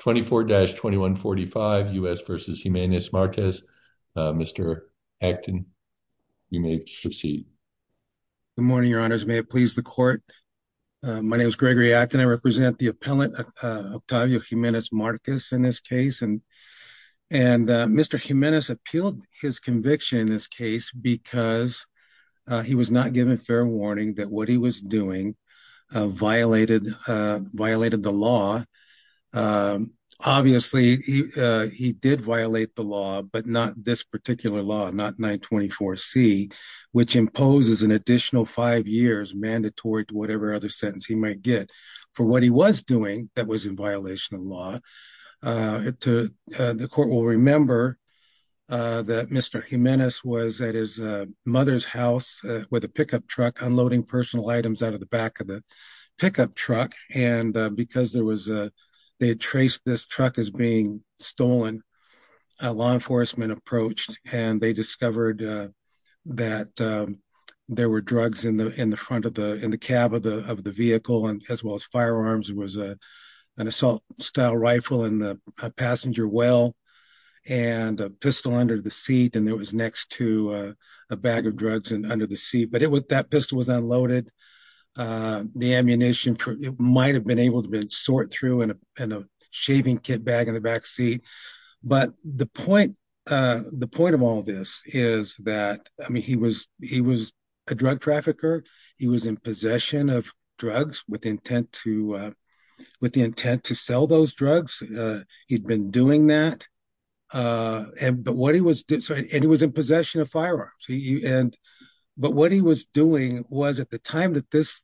24-2145 U.S. v. Jimenez-Marquez. Mr. Acton you may proceed. Good morning, your honors. May it please the court. My name is Gregory Acton. I represent the appellant Octavio Jimenez-Marquez in this case and Mr. Jimenez appealed his conviction in this case because he was not given fair warning that what he was doing violated the law. Obviously he did violate the law but not this particular law, not 924 C, which imposes an additional five years mandatory to whatever other sentence he might get for what he was doing that was in violation of law. The court will remember that Mr. Jimenez was at his mother's house with a pickup truck unloading personal items out of the back of the pickup truck and because there was a, they had traced this truck as being stolen, a law enforcement approached and they discovered that there were drugs in the in the front of the in the cab of the of the vehicle and as well as firearms. It was a an assault style rifle in the passenger well and a pistol under the seat and there was next to a bag of drugs and under the seat but it was that pistol was unloaded. The ammunition for it might have been able to been sort through and a shaving kit bag in the back seat but the point the point of all this is that I mean he was he was a drug trafficker. He was in possession of drugs with intent to with the intent to sell those drugs. He'd been doing that and but he was in possession of firearms and but what he was doing was at the time that this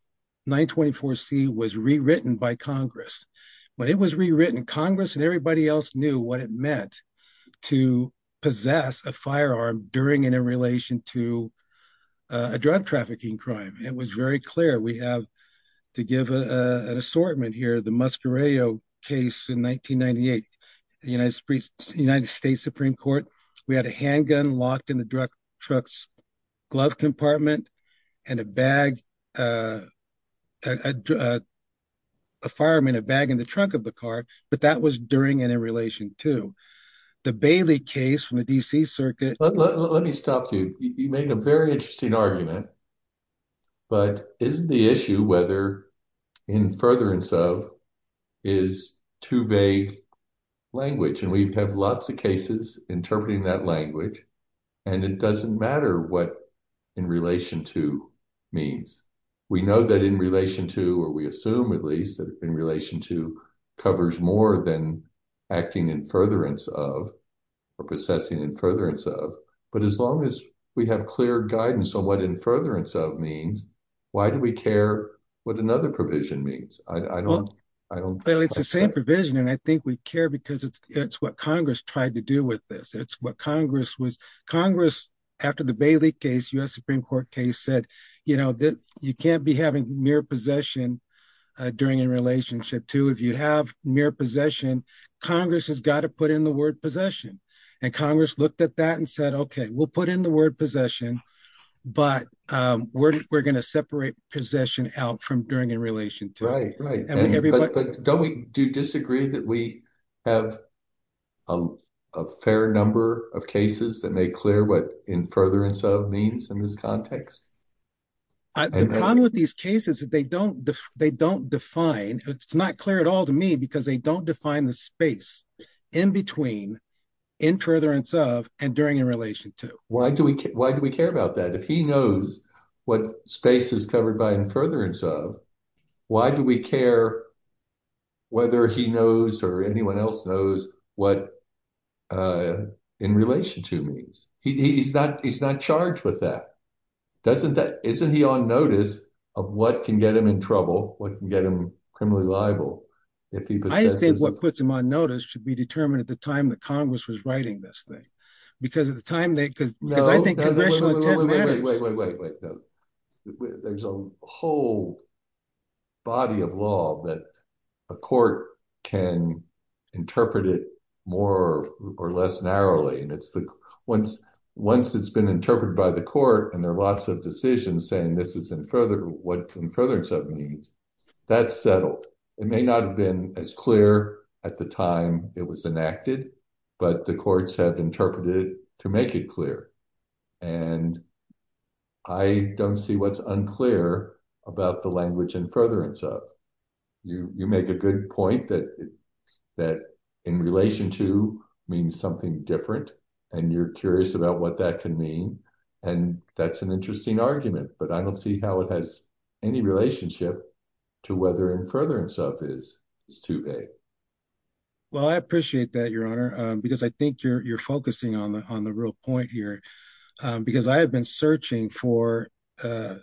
924c was rewritten by Congress. When it was rewritten Congress and everybody else knew what it meant to possess a firearm during and in relation to a drug trafficking crime. It was very clear we have to give an assortment here the Muscarelle case in 1998 the United States Supreme Court. We had a handgun locked in the truck's glove compartment and a bag a fireman a bag in the trunk of the car but that was during and in relation to the Bailey case from the DC Circuit. Let me stop you. You made a very interesting argument but is the issue whether in furtherance of is too vague language and we have lots of cases interpreting that language and it doesn't matter what in relation to means. We know that in relation to or we assume at least that in relation to covers more than acting in furtherance of or possessing in furtherance of but as long as we have clear guidance on what in furtherance of means why do we care what another provision means. Well it's the same provision and I think we care because it's it's what Congress tried to do with this. It's what Congress was Congress after the Bailey case US Supreme Court case said you know that you can't be having mere possession during in relationship to if you have mere possession Congress has got to put in the word possession and Congress looked at that and said okay we'll put in the word possession but we're gonna separate possession out from during in relation to. Don't we do disagree that we have a fair number of cases that make clear what in furtherance of means in this context. The problem with these cases that they don't they don't define it's not clear at all to me because they don't define the space in between in furtherance of and during in relation to. Why do we care about that if he knows what space is covered by in furtherance of why do we care whether he knows or anyone else knows what in relation to means. He's not he's not charged with that doesn't that isn't he on notice of what can get him in trouble what can get him criminally liable. I think what puts him on notice should be determined at the time the Congress was writing this thing because at the time they could because I think there's a whole body of law that a court can interpret it more or less narrowly and it's the once once it's been interpreted by the court and there are lots of decisions saying this is in further what in furtherance of means that's settled it may not have been as clear at the time it was enacted but the courts have interpreted to make it clear and I don't see what's unclear about the language in furtherance of you you make a good point that that in relation to means something different and you're curious about what that can mean and that's an interesting argument but I don't see how it has any relationship to whether in furtherance of is is too vague well I appreciate that your honor because I think you're focusing on the on the real point here because I have been searching for to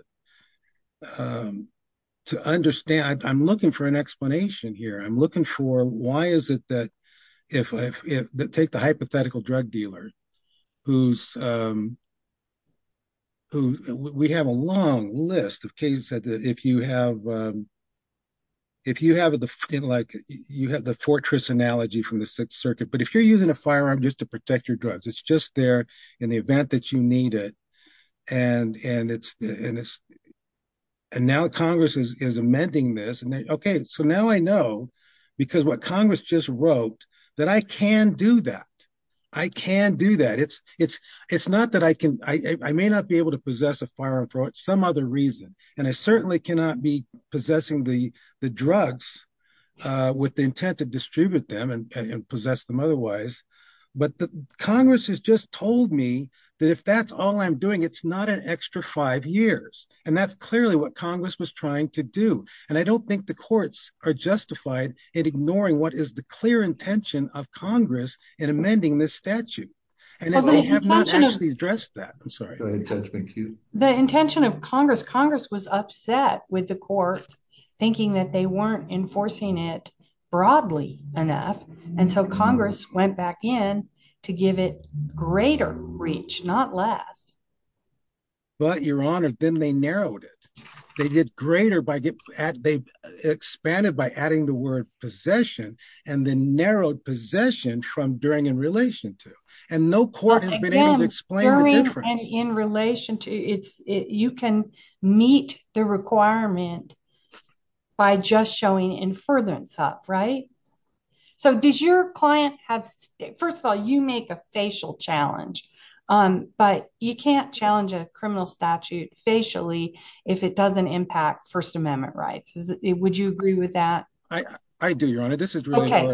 understand I'm looking for an explanation here I'm looking for why is it that if I take the hypothetical drug dealer who's who we have a long list of cases that if you have if you have the feel like you have the fortress analogy from the Sixth Circuit but if you're using a firearm just to protect your drugs it's just there in the event that you need it and and it's and it's and now Congress is amending this and okay so now I know because what Congress just wrote that I can do that I can do that it's it's it's not that I can I may not be able to possess a firearm for some other reason and I certainly cannot be possessing the the drugs with the intent to distribute them and possess them otherwise but the Congress has just told me that if that's all I'm doing it's not an extra five years and that's clearly what Congress was trying to do and I don't think the courts are justified in ignoring what is the clear intention of Congress in amending this statute and they have not actually addressed that I'm sorry the intention of Congress Congress was upset with the court thinking that they weren't enforcing it broadly enough and so Congress went back in to give it greater reach not less but your honor then they narrowed it they did greater by get at they expanded by adding the word possession and then narrowed possession from during in relation to and no court has been able to explain in relation to it's it you can meet the requirement by just showing in furtherance up right so did your client have first of all you make a facial challenge on but you can't challenge a criminal statute facially if it doesn't impact First Amendment rights is it would you agree with that I I do your honor this is really about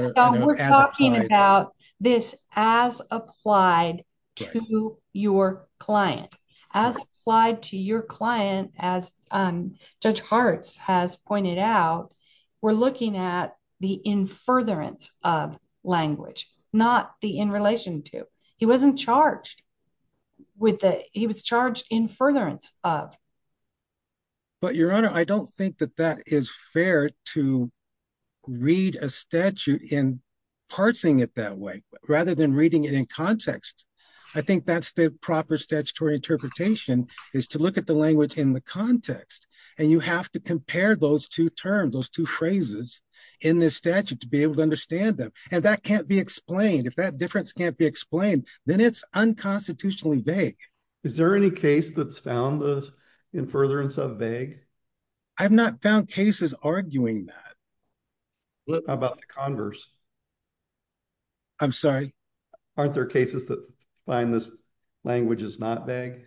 this as applied to your client as applied to your client as Judge Harts has pointed out we're looking at the in furtherance of language not the in relation to he wasn't charged with that he was charged in furtherance of but your honor I don't think that that is fair to read a statute in parsing it that way rather than reading it in context I think that's the proper statutory interpretation is to look at the language in the context and you have to pair those two terms those two phrases in this statute to be able to understand them and that can't be explained if that difference can't be explained then it's unconstitutionally vague is there any case that's found those in furtherance of vague I've not found cases arguing that about the converse I'm sorry aren't there cases that find this language is not vague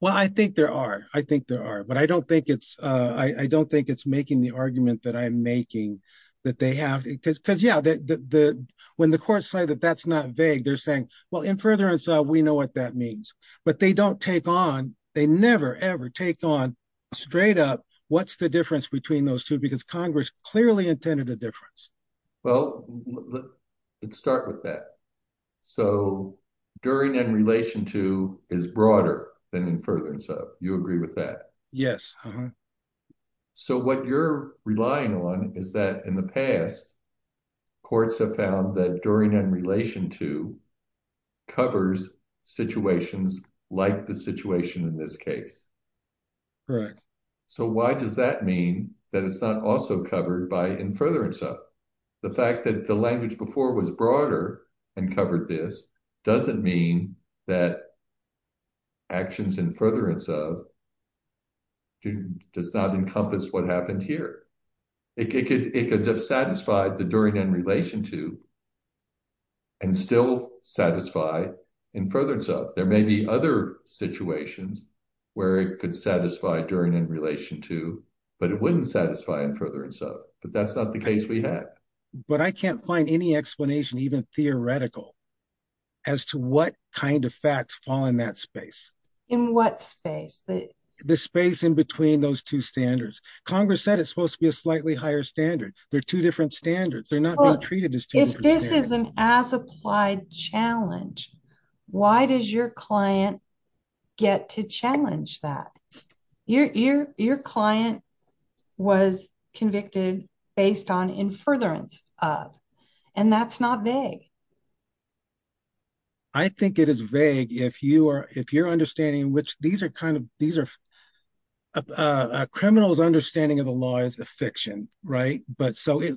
well I think there are I think there are but I don't think it's I don't think it's making the argument that I'm making that they have because because yeah that the when the courts say that that's not vague they're saying well in furtherance we know what that means but they don't take on they never ever take on straight up what's the difference between those two because Congress clearly intended a difference well let's start with that so during in relation to is broader than in further you agree with that yes so what you're relying on is that in the past courts have found that during in relation to covers situations like the situation in this case correct so why does that mean that it's not also covered by in furtherance of the fact that the language before was broader and covered this doesn't mean that actions in furtherance of does not encompass what happened here it could it could have satisfied the during in relation to and still satisfy in furtherance of there may be other situations where it could satisfy during in relation to but it wouldn't satisfy in furtherance of but that's not the case we had but I can't find any explanation even theoretical as to what kind of facts fall in that space in what space the the space in between those two standards Congress said it's supposed to be a slightly higher standard they're two different standards they're not treated as if this is an as applied challenge why does your client get to challenge that you're your client was convicted based on in furtherance of and that's not vague I think it is vague if you are if you're understanding which these are kind of these are criminals understanding of the law is a fiction right but so it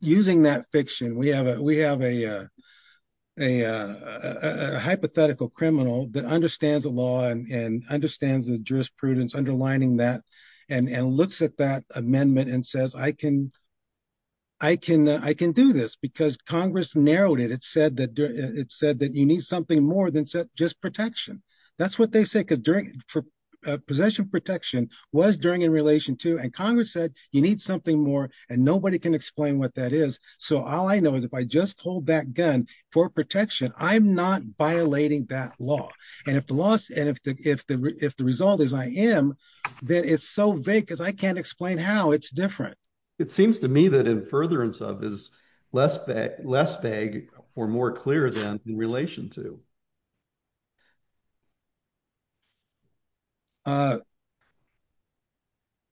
using that fiction we have a we have a a hypothetical criminal that understands the law and understands the jurisprudence underlining that and and looks at that amendment and says I can I can I can do this because Congress narrowed it it said that it said that you need something more than set just protection that's what they say because during for possession protection was during in relation to and Congress said you need something more and nobody can explain what that is so all I know is if I just hold that gun for protection I'm violating that law and if the loss and if the if the if the result is I am then it's so big as I can't explain how it's different it seems to me that in furtherance of is less bag less bag or more clear than in relation to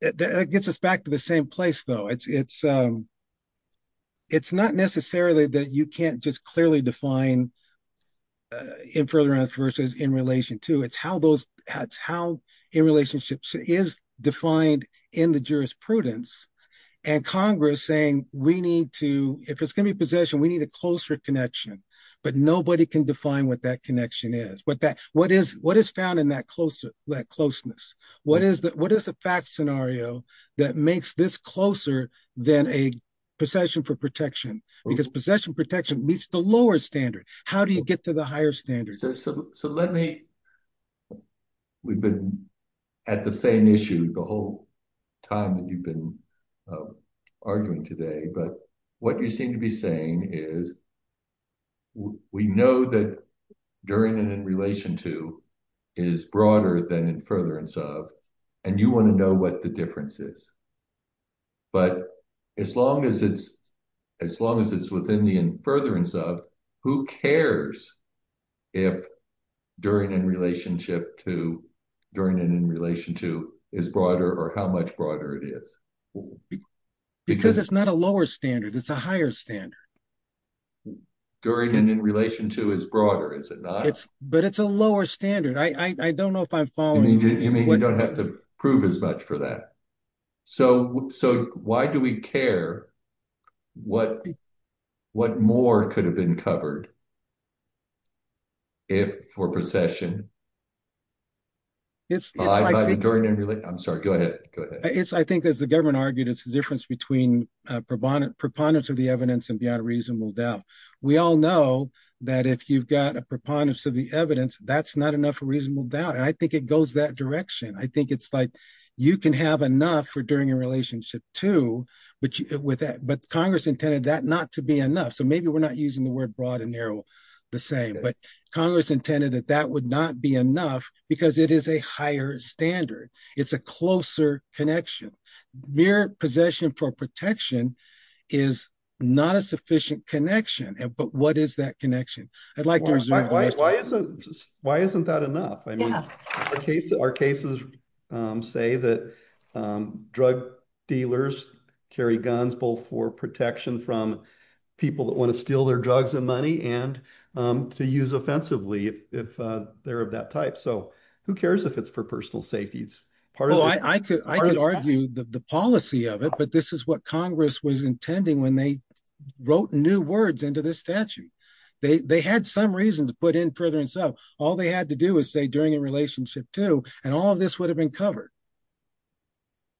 it gets us back to the same place though it's it's it's not necessarily that you can't just clearly define in furtherance versus in relation to it's how those hats how in relationships is defined in the jurisprudence and Congress saying we need to if it's gonna be possession we need a closer connection but nobody can define what that connection is but that what is what is found in that closer that closeness what is that what is the fact scenario that makes this closer than a possession for protection because possession protection meets the lower standard how do you get to the higher standard system so let me we've been at the same issue the whole time that you've been arguing today but what you seem to be saying is we know that during and in relation to is broader than in furtherance of and you want to know what the difference is but as long as it's as long as it's within the in furtherance of who cares if during in relationship to during it in relation to is broader or how much broader it is because it's not a lower standard it's a higher standard during in relation to is it's but it's a lower standard I don't know if I'm following you don't have to prove as much for that so so why do we care what what more could have been covered if for possession it's I'm sorry go ahead it's I think as the government argued it's the difference between proponent proponents of the evidence and reasonable doubt we all know that if you've got a proponents of the evidence that's not enough reasonable doubt and I think it goes that direction I think it's like you can have enough for during a relationship to which with that but Congress intended that not to be enough so maybe we're not using the word broad and narrow the same but Congress intended that that would not be enough because it is a higher standard it's a closer connection mere possession for protection is not a sufficient connection and but what is that connection I'd like to why isn't that enough I mean our cases say that drug dealers carry guns both for protection from people that want to steal their drugs and money and to use offensively if they're of that type so who cares if it's for personal safety it's part of I could argue the policy of it but this is what Congress was intending when they wrote new words into this statute they had some reason to put in further and so all they had to do is say during a relationship to and all of this would have been covered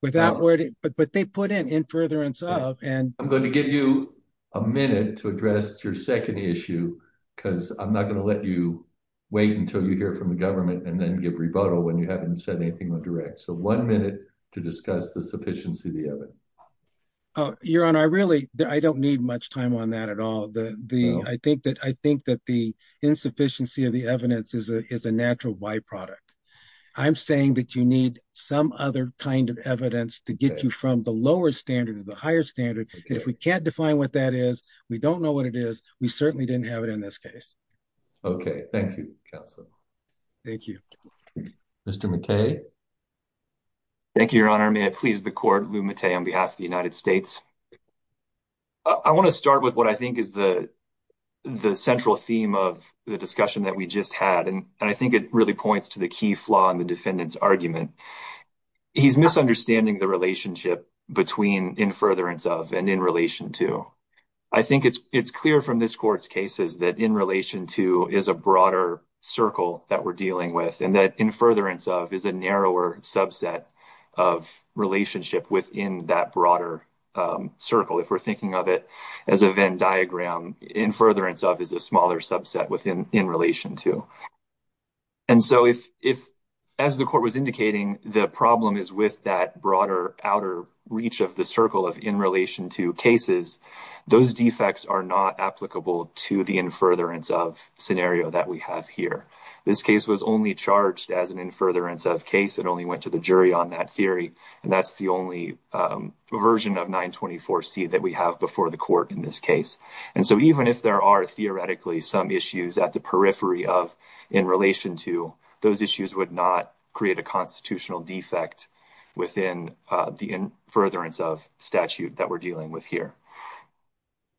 without wording but but they put in in furtherance of and I'm going to give you a minute to address your second issue because I'm not gonna let you wait until you hear from the government and then give rebuttal when you haven't said anything direct so one minute to discuss the sufficiency of the oven oh you're on I really I don't need much time on that at all the the I think that I think that the insufficiency of the evidence is a natural byproduct I'm saying that you need some other kind of evidence to get you from the lower standard of the higher standard if we can't define what that is we don't know what it is we certainly didn't have it in this case okay thank you thank you mr. McKay thank you your honor may I please the court Lu Matei on behalf of the United States I want to start with what I think is the the central theme of the discussion that we just had and I think it really points to the key flaw in the defendants argument he's misunderstanding the relationship between in furtherance of and in relation to I think it's it's clear from this court's cases that in relation to is a broader circle that we're dealing with and that in furtherance of is a narrower subset of relationship within that broader circle if we're thinking of it as a Venn diagram in furtherance of is a smaller subset within in relation to and so if if as the court was indicating the problem is with that broader outer reach of the circle of in relation to cases those defects are not applicable to the in furtherance of scenario that we have here this case was only charged as an in furtherance of case it only went to the jury on that theory and that's the only version of 924 C that we have before the court in this case and so even if there are theoretically some issues at the periphery of in relation to those issues would not create a constitutional defect within the in furtherance of statute that we're dealing with here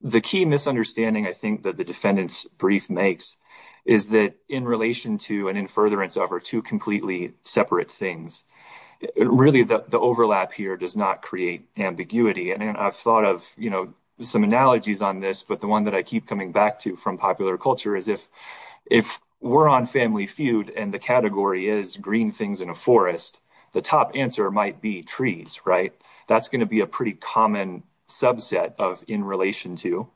the key misunderstanding I think that the defendants brief makes is that in relation to and in furtherance over two completely separate things really the overlap here does not create ambiguity and I've thought of you know some analogies on this but the one that I keep coming back to from popular culture is if if we're on family feud and the category is green things in a forest the top answer might be trees right that's going to be a pretty common subset of in relation to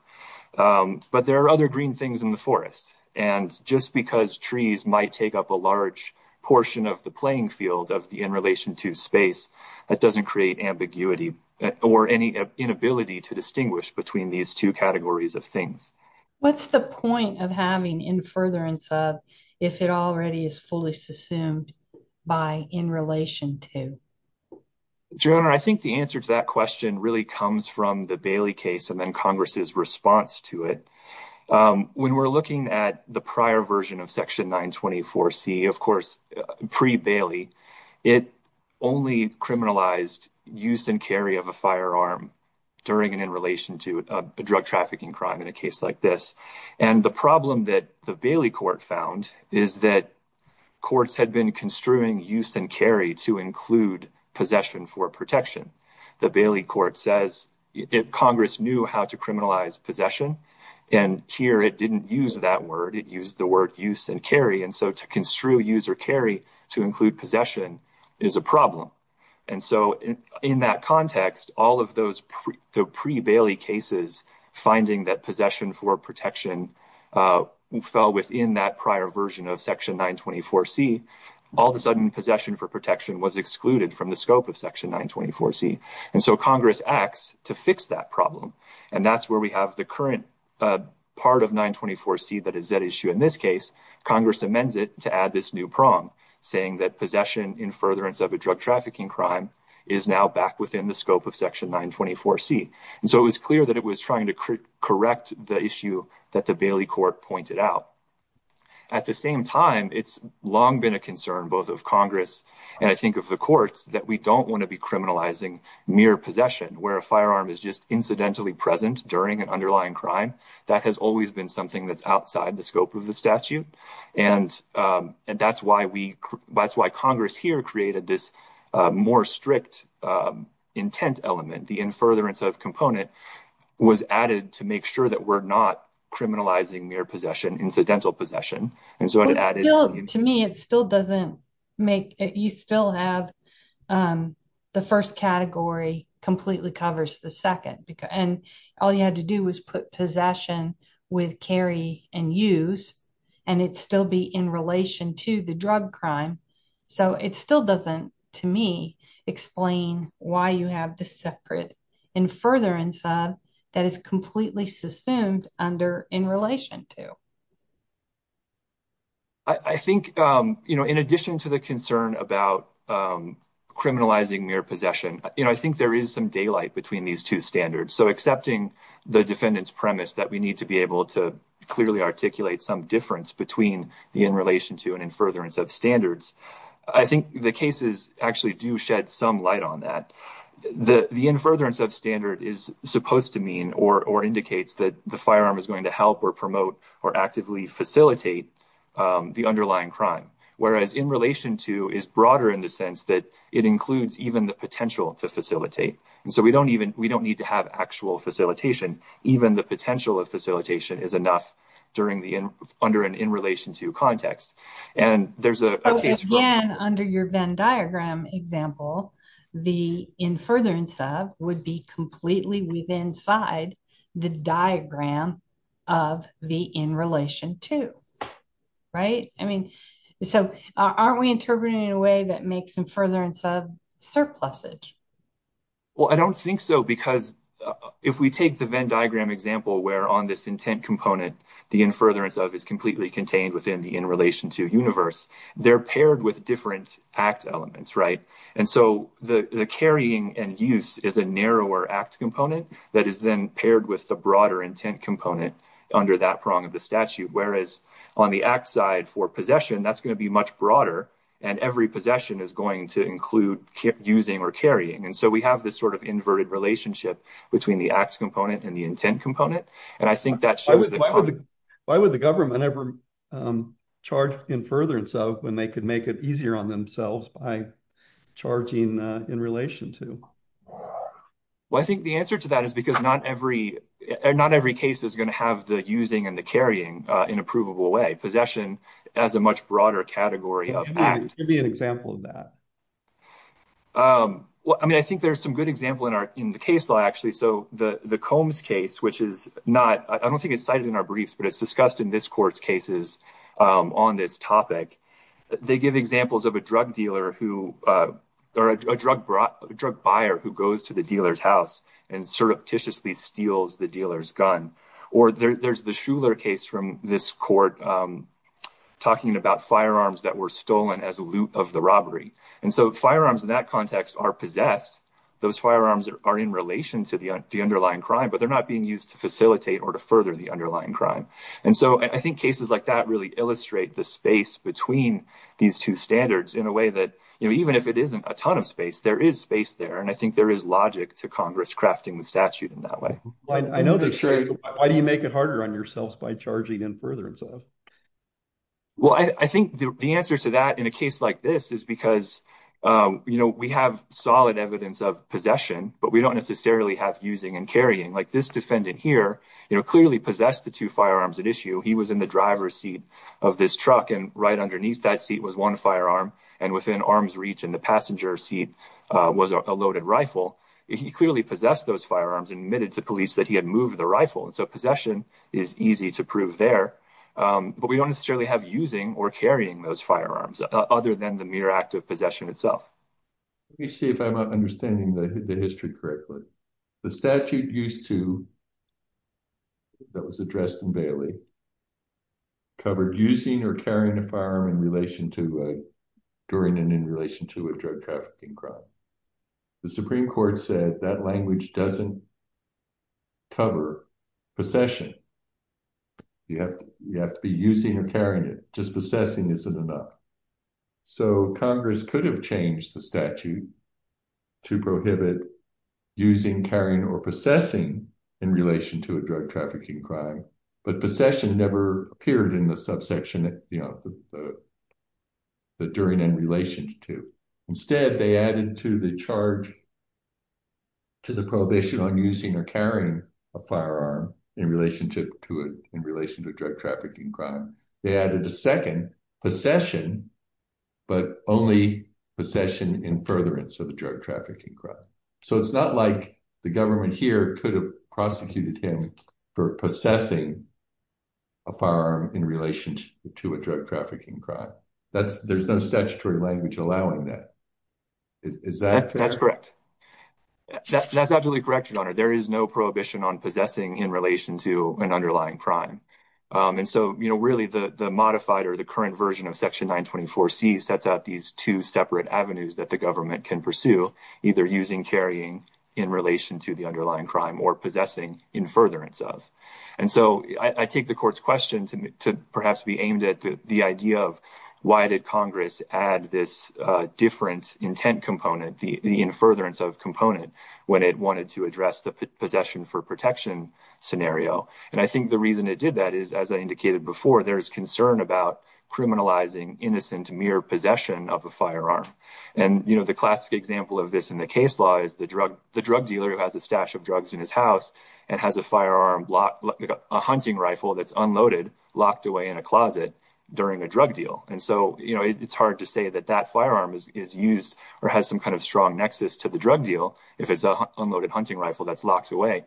but there are other green things in the forest and just because trees might take up a large portion of the playing field of the in relation to space that doesn't create ambiguity or any inability to distinguish between these two categories of things what's the point of having in furtherance of if it already is fully subsumed by in relation to your honor I think the answer to that question really comes from the Bailey case and then Congress's response to it when we're looking at the prior version of section 924 C of course pre Bailey it only criminalized use and carry of a firearm during and in relation to a drug trafficking crime in a case like this and the problem that the Bailey court found is that courts had been construing use and carry to include possession for protection the Bailey court says if Congress knew how to criminalize possession and here it didn't use that word it used the word use and carry and so to construe use or carry to include possession is a problem and so in that context all of those pre Bailey cases finding that possession for protection fell within that prior version of section 924 C all the sudden possession for protection was excluded from the scope of section 924 C and so Congress acts to fix that problem and that's where we have the current part of 924 C that is that issue in this case Congress amends it to add this new prong saying that possession in furtherance of a drug trafficking crime is now back within the scope of section 924 C and so it was clear that it was trying to correct the issue that the Bailey court pointed out at the same time it's long been a concern both of Congress and I think of the courts that we don't want to be criminalizing mere possession where a firearm is just incidentally present during an underlying crime that has always been something that's outside the scope of the statute and and that's why we that's why Congress here created this more strict intent element the in furtherance of component was added to make sure that we're not criminalizing mere possession incidental possession and so it added to me it still doesn't make it you still have the first category completely covers the second because and all you had to do was put possession with carry and use and it still be in relation to the drug crime so it still doesn't to me explain why you have the separate in furtherance of that is completely sustained under in relation to I think you know in addition to the concern about criminalizing mere possession you know I think there is some daylight between these two standards so accepting the defendants premise that we need to be able to clearly articulate some difference between the in relation to and in furtherance of standards I think the cases actually do shed some light on that the the in furtherance of standard is supposed to mean or or indicates that the firearm is going to help or promote or actively facilitate the underlying crime whereas in relation to is broader in the sense that it includes even the potential to facilitate and so we don't even we don't need to have actual facilitation even the potential of facilitation is enough during the end under an in relation to context and there's a case again under your Venn diagram example the in furtherance of would be completely with inside the diagram of the in relation to right I mean so aren't we interpreting in a way that makes them furtherance of surplusage well I don't think so because if we take the Venn diagram example where on this intent component the in furtherance of is completely contained within the in relation to universe they're paired with different acts elements right and so the the carrying and use is a narrower act component that is then paired with the broader intent component under that prong of the statute whereas on the act side for possession that's going to be much broader and every possession is going to include keep using or carrying and so we have this sort of inverted relationship between the acts component and the intent component and I think that's why would the government ever charge in furtherance of when they could make it easier on themselves by charging in relation to well I think the answer to that is because not every not every case is going to have the using and the carrying in a provable way possession as a much broader category of act be an example of that well I mean I think there's some good example in our in the case law actually so the the Combs case which is not I don't think it's cited in our briefs but it's discussed in this court's cases on this topic they give examples of a drug dealer who are a drug brought a drug buyer who goes to the dealers house and surreptitiously steals the dealers gun or there's the Schuller case from this court talking about firearms that were stolen as a loop of the robbery and so firearms in that context are possessed those firearms are in relation to the underlying crime but they're not being used to facilitate or to further the underlying crime and so I think cases like that really illustrate the space between these two standards in a way that you know even if it isn't a ton of space there is space there and I think there is logic to Congress crafting the statute in that way I know that sure why do you make it harder on yourselves by charging in furtherance of well I think the answer to that in a case like this is because you know we have solid evidence of possession but we don't necessarily have using and carrying like this defendant here you know clearly possessed the two firearms at issue he was in the driver's seat of this truck and right underneath that seat was one firearm and within arm's reach and the passenger seat was a loaded rifle he clearly possessed those firearms admitted to police that he had moved the rifle and so possession is easy to prove there but we don't necessarily have using or carrying those firearms other than the mere act of possession itself you see if I'm not understanding the history correctly the statute used to that was addressed in Bailey covered using or carrying a firearm in relation to during and in relation to a drug trafficking crime the Supreme Court said that language doesn't cover possession you have you have to be using or carrying it just possessing isn't enough so Congress could have changed the statute to prohibit using carrying or possessing in relation to a drug trafficking crime but possession never appeared in the subsection that you know that during in relation to instead they added to the charge to the prohibition on using or carrying a firearm in relationship to it in relation to a drug trafficking crime they added a second possession but only possession in furtherance of the drug trafficking crime so it's not like the government here could have prosecuted him for possessing a firearm in relation to a drug trafficking crime that's there's no statutory language allowing that is that that's correct that's absolutely correct your honor there is no prohibition on possessing in relation to an underlying crime and so you know really the the modified or the current version of section 924 C sets out these two separate avenues that the government can pursue either using carrying in relation to the underlying crime or possessing in furtherance of and so I take the court's questions and to perhaps be aimed at the idea of why did Congress add this different intent component the in furtherance of component when it wanted to address the possession for protection scenario and I think the reason it did that is as I indicated before there is concern about criminalizing innocent mere possession of a firearm and you know the classic example of this in the case law is the drug the drug dealer who has a stash of drugs in his house and has a firearm a hunting rifle that's unloaded locked away in a closet during a drug deal and so you know it's hard to say that that firearm is used or has some kind of strong nexus to the drug deal if it's a unloaded hunting rifle that's locked away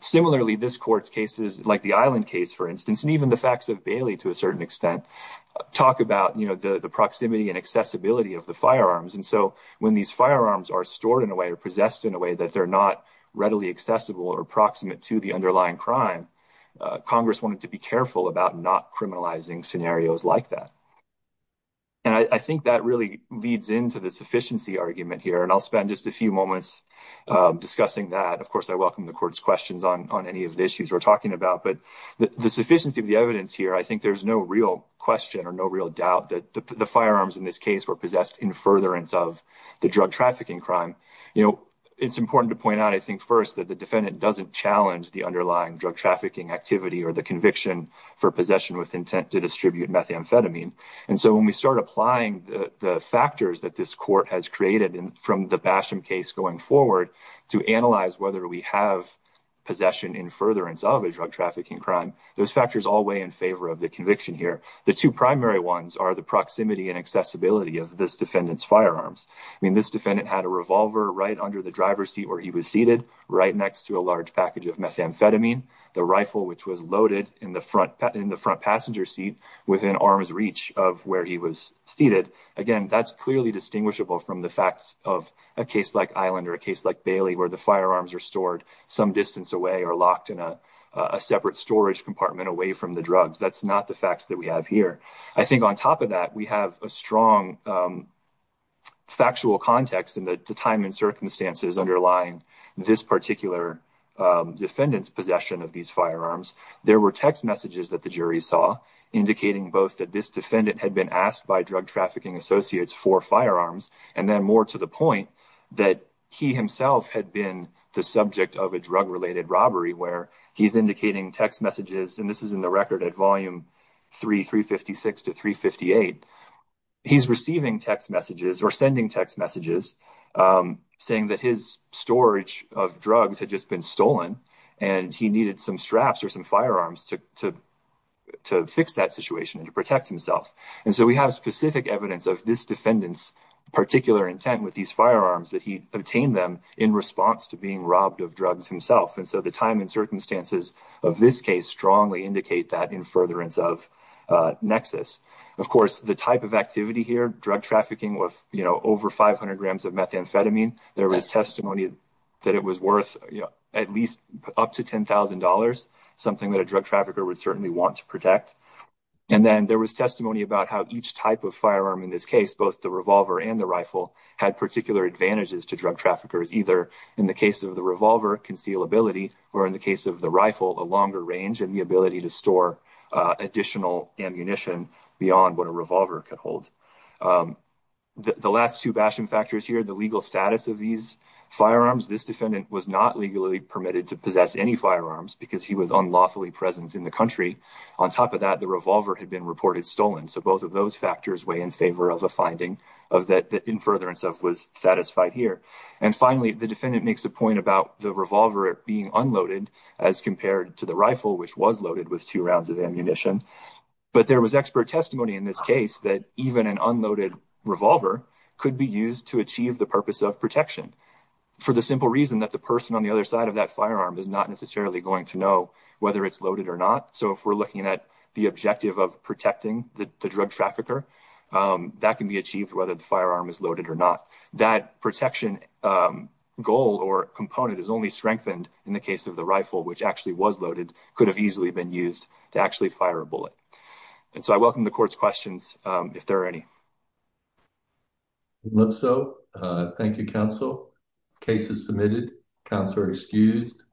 similarly this court's cases like the island case for instance and even the facts of Bailey to a certain extent talk about you know the the proximity and accessibility of the firearms and so when these firearms are stored in a way or possessed in a way that they're not readily accessible or proximate to the underlying crime Congress wanted to be careful about not criminalizing scenarios like that and I think that really leads into the sufficiency argument here and I'll spend just a few moments discussing that of course I welcome the court's questions on any of the issues we're talking about but the sufficiency of the evidence here I think there's no real question or no real doubt that the firearms in this case were possessed in furtherance of the drug trafficking crime you know it's important to point out I think first that the defendant doesn't challenge the underlying drug trafficking activity or the conviction for possession with intent to distribute methamphetamine and so when we start applying the factors that this court has created and from the bastion case going forward to analyze whether we have possession in furtherance of a drug trafficking crime those factors all weigh in favor of the conviction here the two primary ones are the proximity and accessibility of this defendants firearms I mean this defendant had a revolver right under the driver's seat where he was seated right next to a large package of methamphetamine the rifle which was loaded in the front in the front passenger seat within arm's reach of where he was seated again that's clearly distinguishable from the facts of a case like Island or a case like Bailey where the firearms are stored some distance away or locked in a separate storage compartment away from the drugs that's not the facts that we have here I think on top of that we have a strong factual context in the time and circumstances underlying this particular defendants possession of these firearms there were text messages that the jury saw indicating both that this defendant had been asked by drug trafficking associates for firearms and then more to the point that he himself had been the subject of a drug-related robbery where he's indicating text messages and this is in the record at volume 3 356 to 358 he's receiving text messages or sending text messages saying that his storage of drugs had just been stolen and he needed some straps or some firearms to fix that situation and to himself and so we have specific evidence of this defendants particular intent with these firearms that he obtained them in response to being robbed of drugs himself and so the time and circumstances of this case strongly indicate that in furtherance of Nexus of course the type of activity here drug trafficking with you know over 500 grams of methamphetamine there was testimony that it was worth you know at least up to $10,000 something that a drug trafficker would certainly want to protect and then there was testimony about how each type of firearm in this case both the revolver and the rifle had particular advantages to drug traffickers either in the case of the revolver conceal ability or in the case of the rifle a longer range and the ability to store additional ammunition beyond what a revolver could hold the last two bashing factors here the legal status of these firearms this defendant was not legally permitted to possess any firearms because he was unlawfully present in the country on top of that the revolver had been reported stolen so both of those factors weigh in favor of a finding of that that in furtherance of was satisfied here and finally the defendant makes a point about the revolver being unloaded as compared to the rifle which was loaded with two rounds of ammunition but there was expert testimony in this case that even an unloaded revolver could be used to achieve the purpose of protection for the simple reason that the person on the other side of that firearm is not necessarily going to know whether it's loaded or not so if we're looking at the objective of protecting the drug trafficker that can be achieved whether the firearm is loaded or not that protection goal or component is only strengthened in the case of the rifle which actually was loaded could have easily been used to actually fire a bullet and so I welcome the court's questions if there are any let's so thank you counsel cases submitted counselor excused